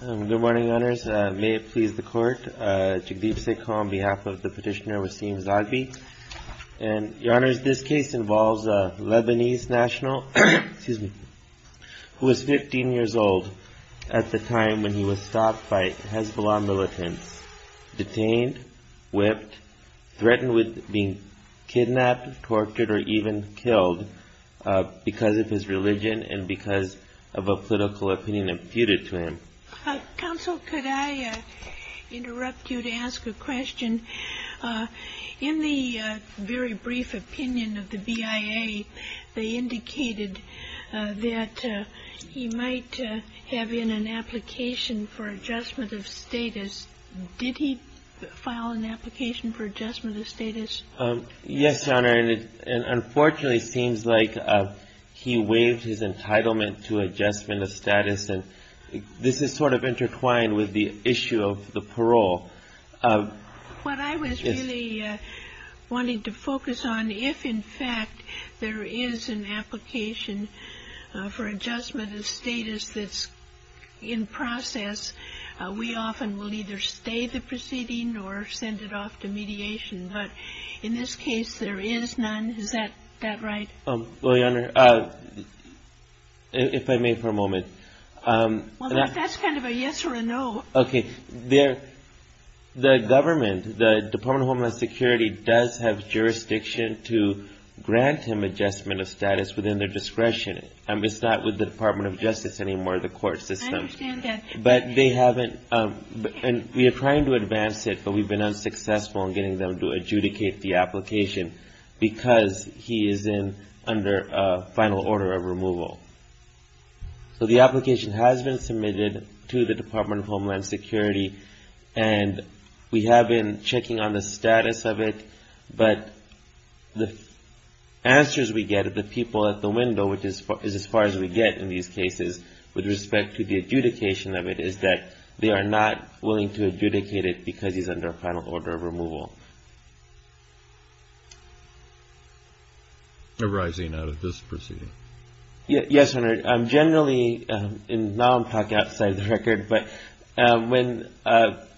Good morning, Your Honors. May it please the Court, Jagdeep Sekhar on behalf of the petitioner Racine Zoghbi. Your Honors, this case involves a Lebanese national who was 15 years old at the time when he was stopped by Hezbollah militants, detained, whipped, threatened with being kidnapped, tortured, or even killed because of his religion and because of a political opinion imputed to him. Counsel, could I interrupt you to ask a question? In the very brief opinion of the BIA, they indicated that he might have in an application for adjustment of status. Did he file an application for adjustment of status? Yes, Your Honor, and unfortunately it seems like he waived his entitlement to adjustment of status, and this is sort of intertwined with the issue of the parole. What I was really wanting to focus on, if in fact there is an application for adjustment of status that's in process, we often will either stay the proceeding or send it off to mediation. But in this case, there is none. Is that right? Well, Your Honor, if I may for a moment. Well, that's kind of a yes or a no. Okay. The government, the Department of Homeland Security does have jurisdiction to grant him adjustment of status within their discretion. It's not with the Department of Justice anymore, the court system. I understand that. But they haven't, and we are trying to advance it, but we've been unsuccessful in getting them to adjudicate the application because he is in under a final order of removal. So the application has been submitted to the Department of Homeland Security, and we have been checking on the status of it, but the answers we get of the people at the window, which is as far as we get in these cases with respect to the adjudication of it, is that they are not willing to adjudicate it because he is under a final order of removal. Arising out of this proceeding. Yes, Your Honor. Generally, and now I'm talking outside the record, but when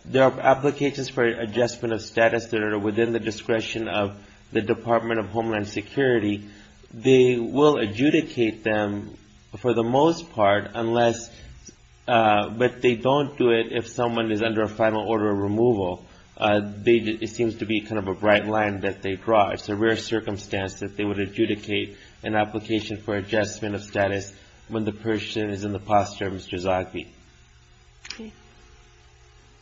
there are applications for adjustment of status that are within the discretion of the Department of Homeland Security, they will adjudicate them for the most part unless, but they don't do it if someone is under a final order of removal. It seems to be kind of a bright line that they draw. It's a rare circumstance that they would adjudicate an application for adjustment of status when the person is in the posture of Mr. Zogby. Okay.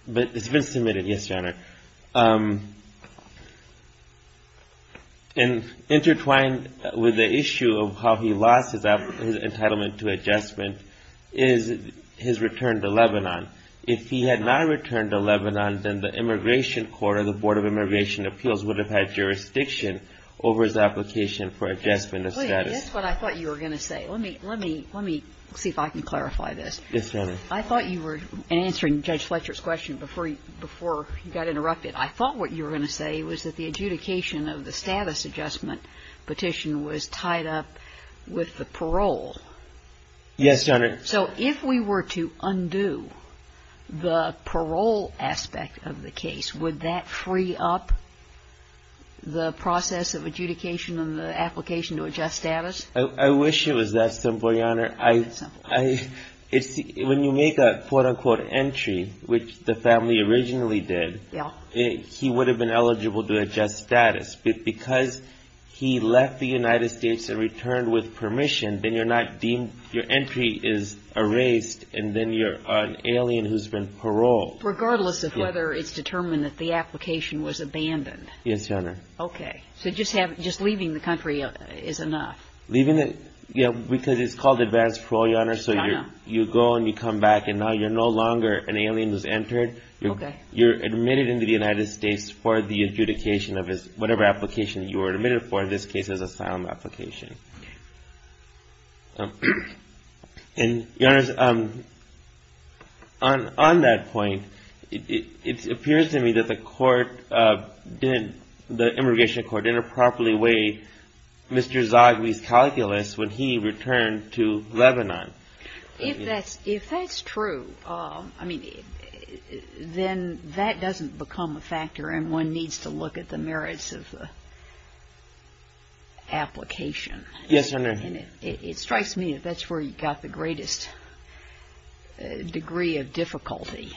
But it's been submitted. Yes, Your Honor. And intertwined with the issue of how he lost his entitlement to adjustment is his return to Lebanon. If he had not returned to Lebanon, then the Immigration Court or the Board of Immigration Appeals would have had jurisdiction over his application for adjustment of status. Wait. That's what I thought you were going to say. Let me see if I can clarify this. Yes, Your Honor. I thought you were, in answering Judge Fletcher's question before you got interrupted, I thought what you were going to say was that the adjudication of the status adjustment petition was tied up with the parole. Yes, Your Honor. So if we were to undo the parole aspect of the case, would that free up the process of adjudication and the application to adjust status? I wish it was that simple, Your Honor. That simple. It's the – when you make a, quote, unquote, entry, which the family originally did, he would have been eligible to adjust status. But because he left the United States and returned with permission, then you're not deemed – your entry is erased and then you're an alien who's been paroled. Regardless of whether it's determined that the application was abandoned. Yes, Your Honor. Okay. So just having – just leaving the country is enough. Leaving the – because it's called advanced parole, Your Honor, so you go and you come back and now you're no longer an alien who's entered. Okay. You're admitted into the United States for the adjudication of whatever application you were admitted for. In this case, it was an asylum application. Okay. And, Your Honor, on that point, it appears to me that the court didn't – the immigration was always calculus when he returned to Lebanon. If that's – if that's true, I mean, then that doesn't become a factor and one needs to look at the merits of the application. Yes, Your Honor. It strikes me that that's where you got the greatest degree of difficulty,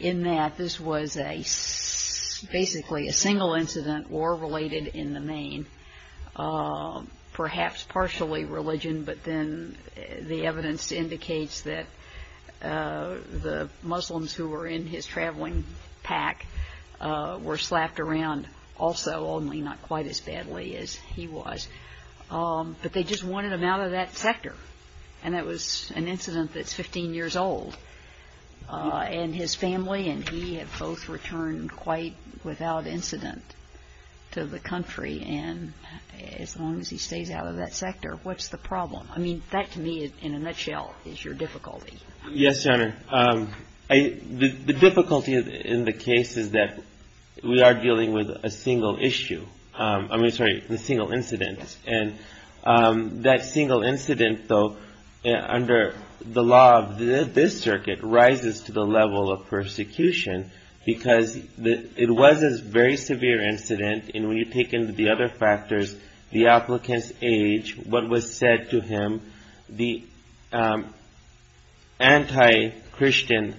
in that this was a – basically a single incident, war-related in the main, perhaps partially religion, but then the evidence indicates that the Muslims who were in his traveling pack were slapped around also, only not quite as badly as he was. But they just wanted him out of that sector, and that was an incident that's 15 years old. And his family and he have both returned quite without incident to the country. And as long as he stays out of that sector, what's the problem? I mean, that to me, in a nutshell, is your difficulty. Yes, Your Honor. The difficulty in the case is that we are dealing with a single issue – I mean, sorry, a single incident. Yes. And that single incident, though, under the law of this circuit, rises to the level of persecution because it was a very severe incident. And when you take into the other factors, the applicant's age, what was said to him, the anti-Christian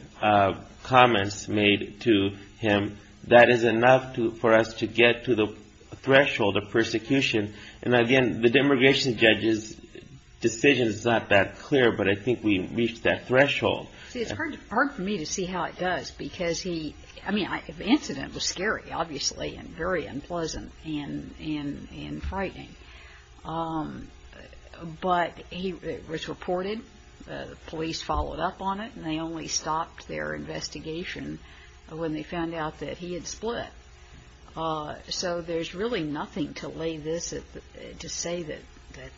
comments made to him, that is enough for us to get to the threshold of the prosecution. And the demigration judge's decision is not that clear, but I think we reached that threshold. See, it's hard for me to see how it does because he – I mean, the incident was scary, obviously, and very unpleasant and frightening. But it was reported, the police followed up on it, and they only stopped their investigation when they found out that he had split. So there's really nothing to lay this – to say that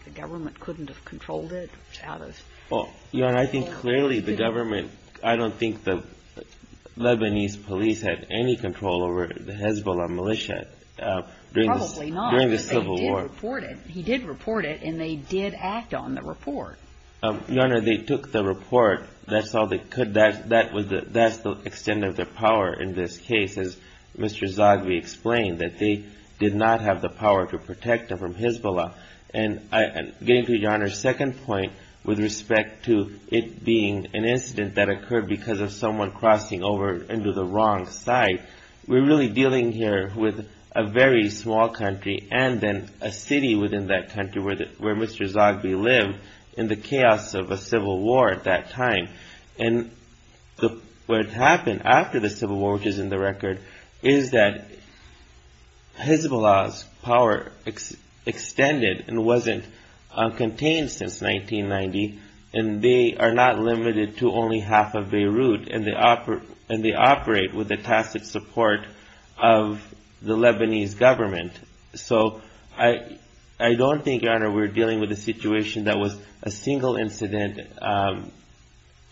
the government couldn't have controlled it out of – Well, Your Honor, I think clearly the government – I don't think the Lebanese police had any control over the Hezbollah militia during the Civil War. Probably not, but they did report it. He did report it, and they did act on the report. Your Honor, they took the report. That's all they could – that's the extent of their did not have the power to protect them from Hezbollah. And getting to Your Honor's second point with respect to it being an incident that occurred because of someone crossing over into the wrong side, we're really dealing here with a very small country and then a city within that country where Mr. Zogby lived in the chaos of a civil war at that time. And what happened after the civil war, which is in the record, is that Hezbollah's power extended and wasn't contained since 1990, and they are not limited to only half of Beirut, and they operate with the tacit support of the Lebanese government. So I don't think, Your Honor, we're dealing with a situation that was a single incident,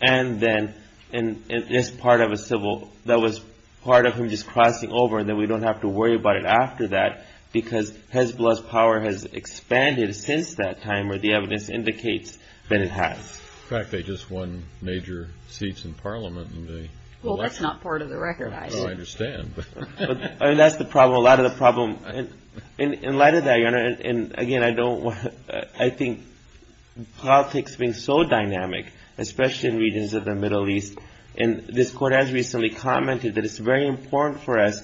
and then in this part of a civil – that was part of him just crossing over, and then we don't have to worry about it after that because Hezbollah's power has expanded since that time, or the evidence indicates that it has. In fact, they just won major seats in Parliament in the election. Well, that's not part of the record, I assume. No, I understand. I mean, that's the problem. A lot of the problem – in light of that, Your Honor, and again, I don't want – I think politics being so dynamic, especially in regions of the Middle East, and this court has recently commented that it's very important for us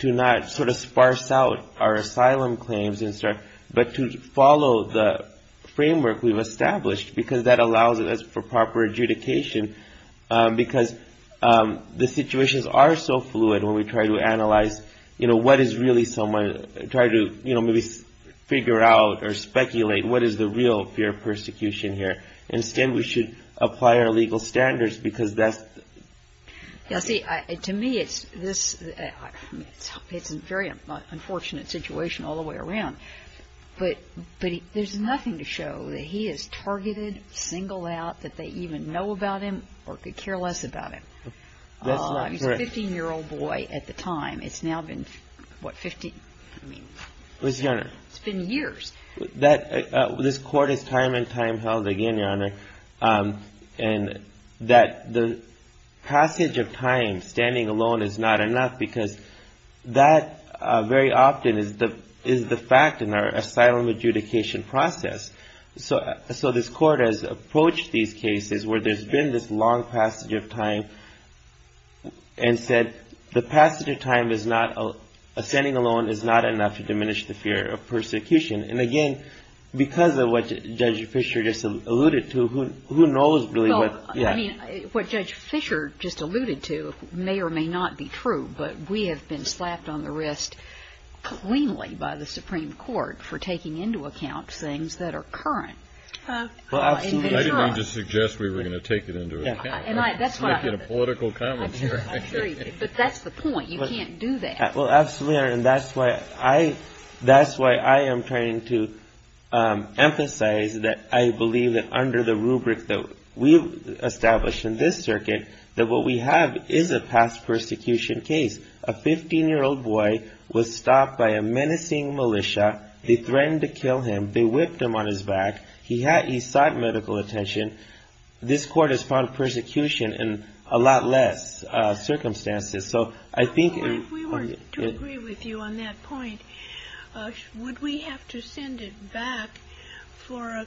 to not sort of sparse out our asylum claims and stuff, but to follow the framework we've established, because that allows us for proper adjudication, because the situations are so fluid when we try to analyze, you know, what is really someone – try to, you know, maybe figure out or speculate what is the real fear of persecution here. Instead, we should apply our legal standards, because that's… Now, see, to me, it's this – it's a very unfortunate situation all the way around, but there's nothing to show that he is targeted, singled out, that they even know about him or could care less about him. That's not correct. He's a 15-year-old boy at the time. It's now been, what, 15 – I mean… Yes, Your Honor. It's been years. That – this court is time and time held again, Your Honor, and that the passage of time standing alone is not enough, because that very often is the – is the fact in our asylum adjudication process. So this court has approached these cases where there's been this long passage of time and said the passage of time is not – standing alone is not enough to diminish the fear of persecution. And again, because of what Judge Fischer just alluded to, who knows really what… Well, I mean, what Judge Fischer just alluded to may or may not be true, but we have been slapped on the wrist cleanly by the Supreme Court for taking into account things that are current. Well, absolutely. I didn't mean to suggest we were going to take it into account. And I – that's why… Political commentary. I'm sure you did. But that's the point. You can't do that. Well, absolutely, Your Honor, and that's why I – that's why I am trying to emphasize that I believe that under the rubric that we've established in this circuit, that what we have is a past persecution case. A 15-year-old boy was stopped by a menacing militia. They threatened to kill him. They whipped him on his back. He had – he sought medical attention. This Court has found persecution in a lot less circumstances. So I think… Well, if we were to agree with you on that point, would we have to send it back for a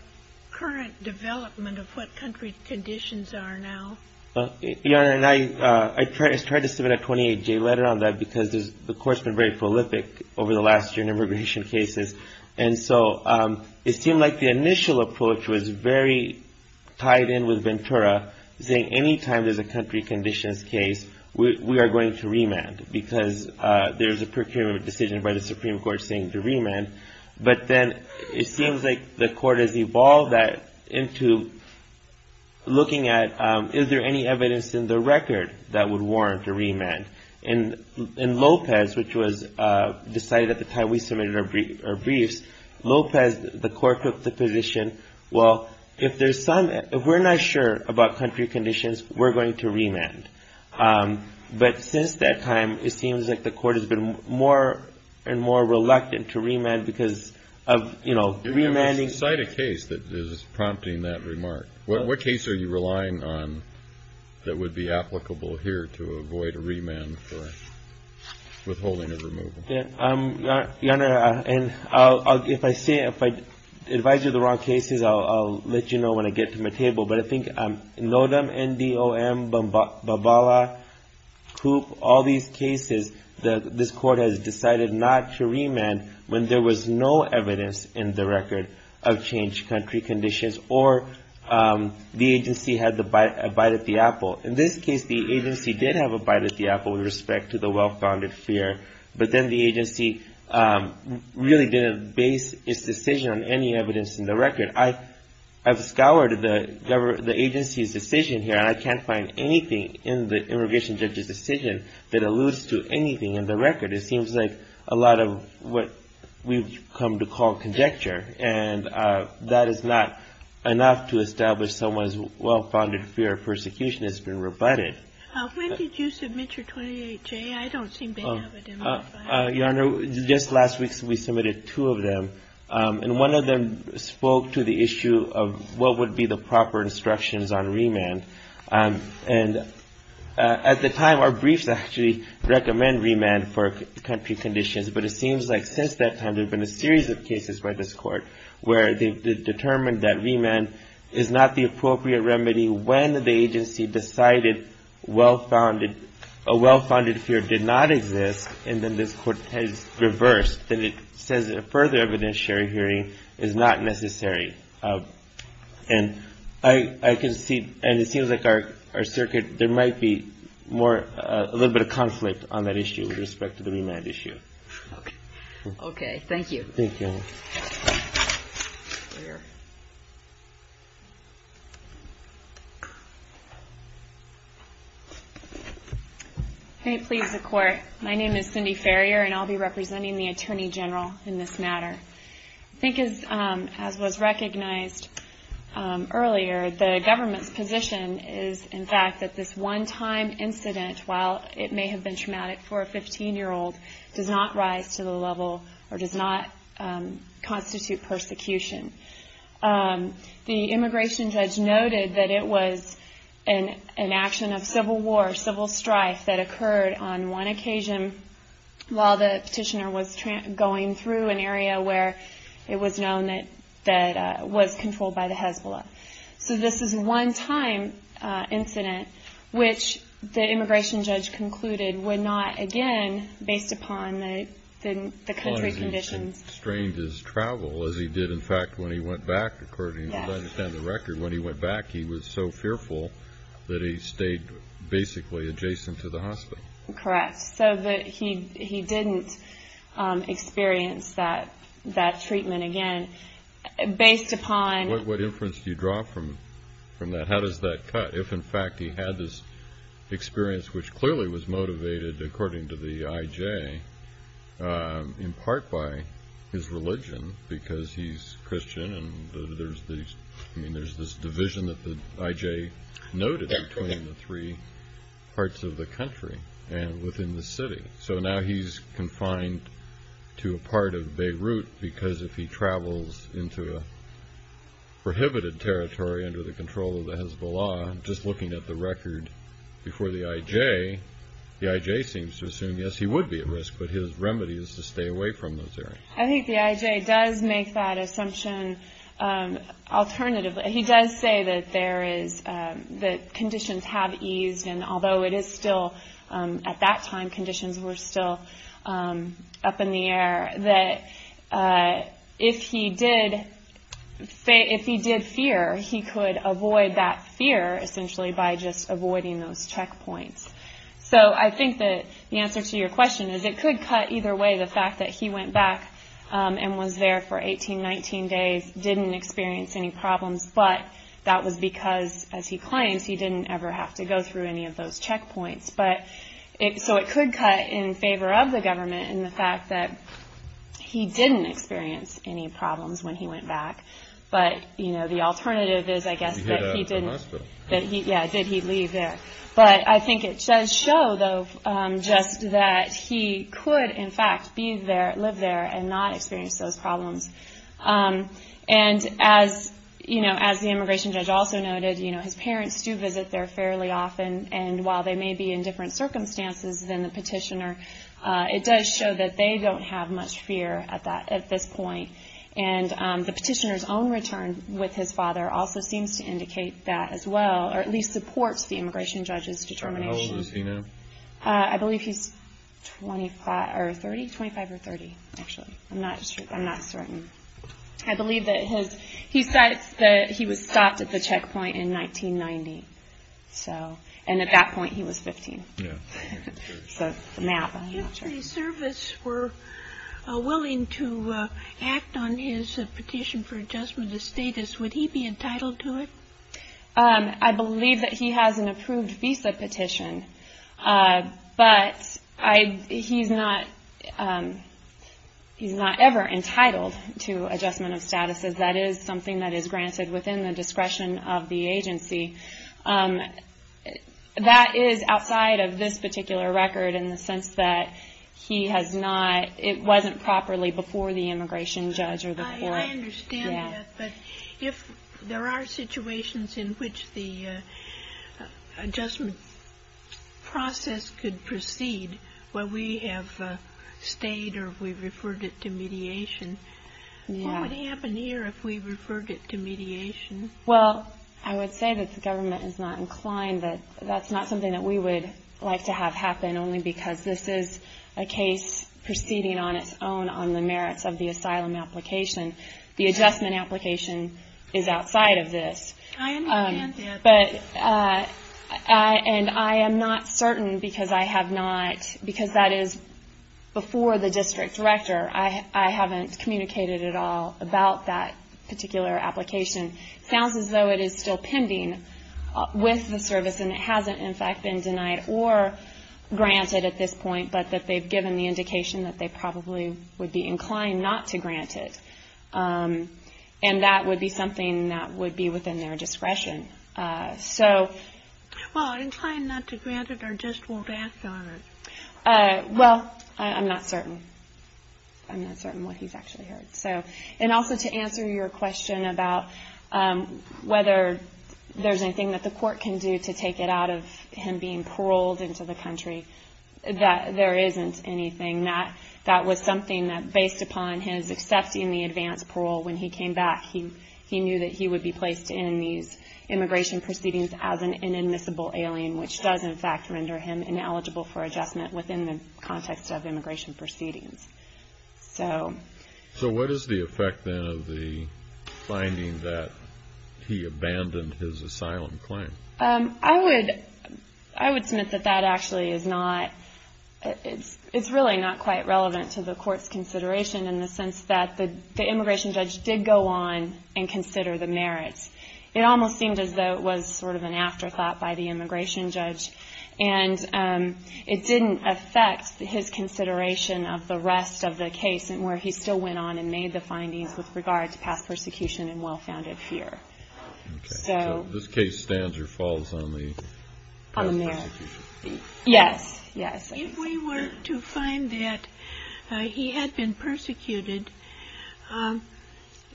current development of what country's conditions are now? Well, Your Honor, and I tried to submit a 28-J letter on that because the Court's been very prolific over the last year in immigration cases. And so it seemed like the initial approach was very tied in with Ventura, saying any time there's a country conditions case, we are going to remand because there's a procurement decision by the Supreme Court saying to remand. But then it seems like the Court has evolved that into looking at is there any evidence in the record that would warrant a remand. And in Lopez, which was decided at the time we submitted our briefs, Lopez, the Court, took the position, well, if there's some – if we're not sure about country conditions, we're going to remand. But since that time, it seems like the Court has been more and more reluctant to remand because of, you know, remanding… Cite a case that is prompting that remark. What case are you relying on that would be applicable here to avoid a remand for withholding a removal? Your Honor, if I say – if I advise you of the wrong cases, I'll let you know when I get to my table. But I think Nodom, N-D-O-M, Babala, Coop, all these cases, this Court has decided not to remand when there was no evidence in the record of changed country conditions or the agency had the bite at the apple. In this case, the agency did have a bite at the apple with respect to the well-founded fear, but then the agency really didn't base its decision on any evidence in the record. I've scoured the agency's decision here, and I can't find anything in the immigration judge's decision that alludes to anything in the record. It seems like a lot of what we've come to call conjecture, and that is not enough to establish someone's well-founded fear of persecution has been rebutted. When did you submit your 28-J? I don't seem to have it in my file. Your Honor, just last week we submitted two of them, and one of them spoke to the issue of what would be the proper instructions on remand. And at the time, our briefs actually recommend remand for country conditions, but it seems like since that time there have been a series of cases by this Court where they've determined that remand is not the appropriate remedy when the agency decided a well-founded fear did not exist, and then this Court has reversed, then it says a further evidentiary hearing is not necessary. And I can see, and it seems like our circuit, there might be more, a little bit of conflict on that issue with respect to the remand issue. Okay, thank you. Thank you. May it please the Court, my name is Cindy Farrier, and I'll be representing the Attorney General in this matter. I think as was recognized earlier, the government's position is, in fact, that this one-time incident, while it may have been traumatic for a 15-year-old, does not rise to the level, or does not constitute persecution. The immigration judge noted that it was an action of civil war, civil strife, that occurred on one occasion while the petitioner was going through an area where it was known that was controlled by the Hezbollah. So this is a one-time incident, which the immigration judge concluded would not, again, based upon the country's conditions. And strained his travel, as he did, in fact, when he went back, according to the record, when he went back, he was so fearful that he stayed basically adjacent to the hospital. Correct, so that he didn't experience that treatment again, based upon... What inference do you draw from that? How does that cut? If, in fact, he had this experience, which clearly was motivated, according to the IJ, in part by his religion, because he's Christian, and there's this division that the IJ noted between the three parts of the country and within the city. So now he's confined to a part of Beirut, because if he travels into a prohibited territory under the control of the Hezbollah, just looking at the record before the IJ, the IJ seems to assume, yes, he would be at risk, but his remedy is to stay away from those areas. I think the IJ does make that assumption alternatively. He does say that conditions have eased, and although it is still, at that time, conditions were still up in the air, that if he did fear, he could avoid that fear, essentially, by just avoiding those checkpoints. So I think that the answer to your question is, it could cut either way, the fact that he went back and was there for 18, 19 days, didn't experience any problems, but that was because, as he claims, he didn't ever have to go through any of those checkpoints. So it could cut in favor of the government in the fact that he didn't experience any problems when he went back, but the alternative is, I guess, that he didn't. Yeah, did he leave there? But I think it does show, though, just that he could, in fact, live there and not experience those problems. And as the immigration judge also noted, his parents do visit there fairly often, and while they may be in different circumstances than the petitioner, it does show that they don't have much fear at this point. And the petitioner's own return with his father also seems to indicate that as well, or at least supports the immigration judge's determination. How old is he now? I believe he's 25 or 30, actually. I'm not certain. I believe that he said that he was stopped at the checkpoint in 1990. So, and at that point, he was 15. So, I'm not sure. If the service were willing to act on his petition for adjustment of status, would he be entitled to it? I believe that he has an approved visa petition, but he's not ever entitled to adjustment of status, as that is something that is granted within the discretion of the agency. That is outside of this particular record in the sense that he has not, it wasn't properly before the immigration judge or the court. I understand that, but if there are situations in which the adjustment process could proceed, where we have stayed or we referred it to mediation, what would happen here if we referred it to mediation? Well, I would say that the government is not inclined, that that's not something that we would like to have happen, only because this is a case proceeding on its own on the merits of the asylum application. The adjustment application is outside of this. I understand that. But, and I am not certain because I have not, because that is before the district director. I haven't communicated at all about that particular application. It sounds as though it is still pending with the service, and it hasn't, in fact, been denied or granted at this point, but that they've given the indication that they probably would be inclined not to grant it, and that would be something that would be within their discretion. So, well, inclined not to grant it or just won't act on it? Well, I'm not certain. I'm not certain what he's actually heard. So, and also to answer your question about whether there's anything that the court can do to take it out of him being paroled into the country, that there isn't anything. That was something that, based upon his accepting the advance parole when he came back, he knew that he would be placed in these immigration proceedings as an inadmissible alien, which does, in fact, render him ineligible for adjustment within the context of immigration proceedings. So... So what is the effect, then, of the finding that he abandoned his asylum claim? I would, I would submit that that actually is not, it's really not quite relevant to the court's consideration in the sense that the immigration judge did go on and consider the merits. It almost seemed as though it was sort of an afterthought by the immigration judge, and it didn't affect his consideration of the rest of the case, and where he still went on and made the findings with regard to past persecution and well-founded fear. So this case stands or falls on the... On the merits. Yes, yes. If we were to find that he had been persecuted,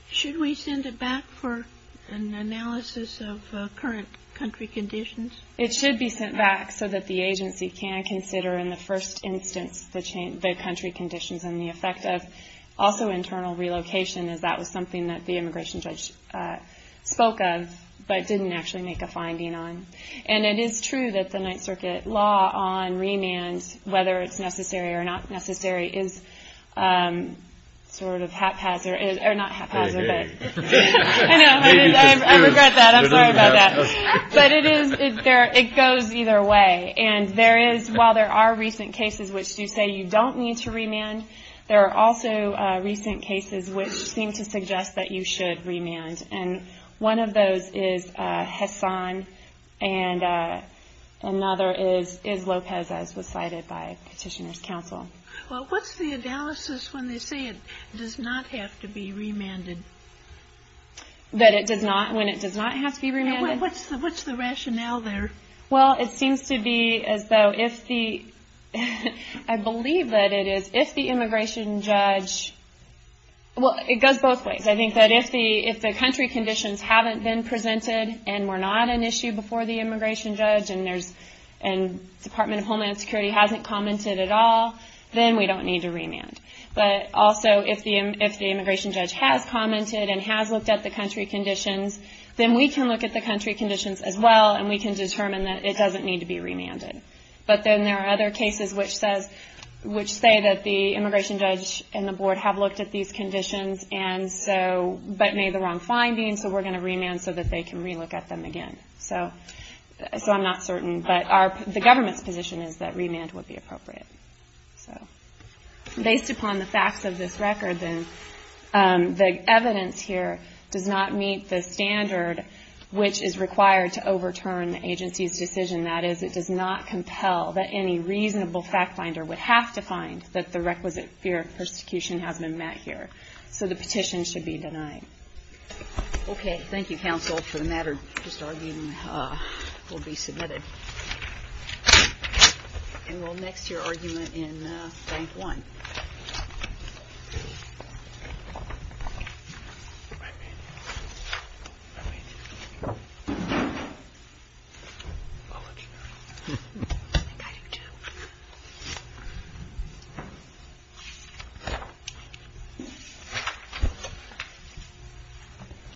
should we send it back for an analysis of current country conditions? It should be sent back so that the agency can consider, in the first instance, the country conditions and the effect of also internal relocation, as that was something that the judge spoke of, but didn't actually make a finding on. And it is true that the Ninth Circuit law on remand, whether it's necessary or not necessary, is sort of haphazard, or not haphazard, but... I know, I regret that. I'm sorry about that. But it is, it goes either way. And there is, while there are recent cases which do say you don't need to remand, there are also recent cases which seem to suggest that you should remand. And one of those is Hassan, and another is Lopez, as was cited by Petitioner's counsel. Well, what's the analysis when they say it does not have to be remanded? That it does not, when it does not have to be remanded? What's the rationale there? Well, it seems to be as though if the, I believe that it is, if the immigration judge, well, it goes both ways. I think that if the, if the country conditions haven't been presented, and were not an issue before the immigration judge, and there's, and Department of Homeland Security hasn't commented at all, then we don't need to remand. But also, if the immigration judge has commented and has looked at the country conditions, then we can look at the country conditions as well, and we can say it doesn't need to be remanded. But then there are other cases which says, which say that the immigration judge and the board have looked at these conditions, and so, but made the wrong findings, so we're going to remand so that they can relook at them again. So, so I'm not certain, but our, the government's position is that remand would be appropriate. So, based upon the facts of this record, then the evidence here does not meet the standard which is required to overturn the agency's decision that is, it does not compel that any reasonable fact finder would have to find that the requisite fear of persecution has been met here. So the petition should be denied. Okay. Thank you, counsel, for the matter. This argument will be submitted. And we'll next to your argument in bank one.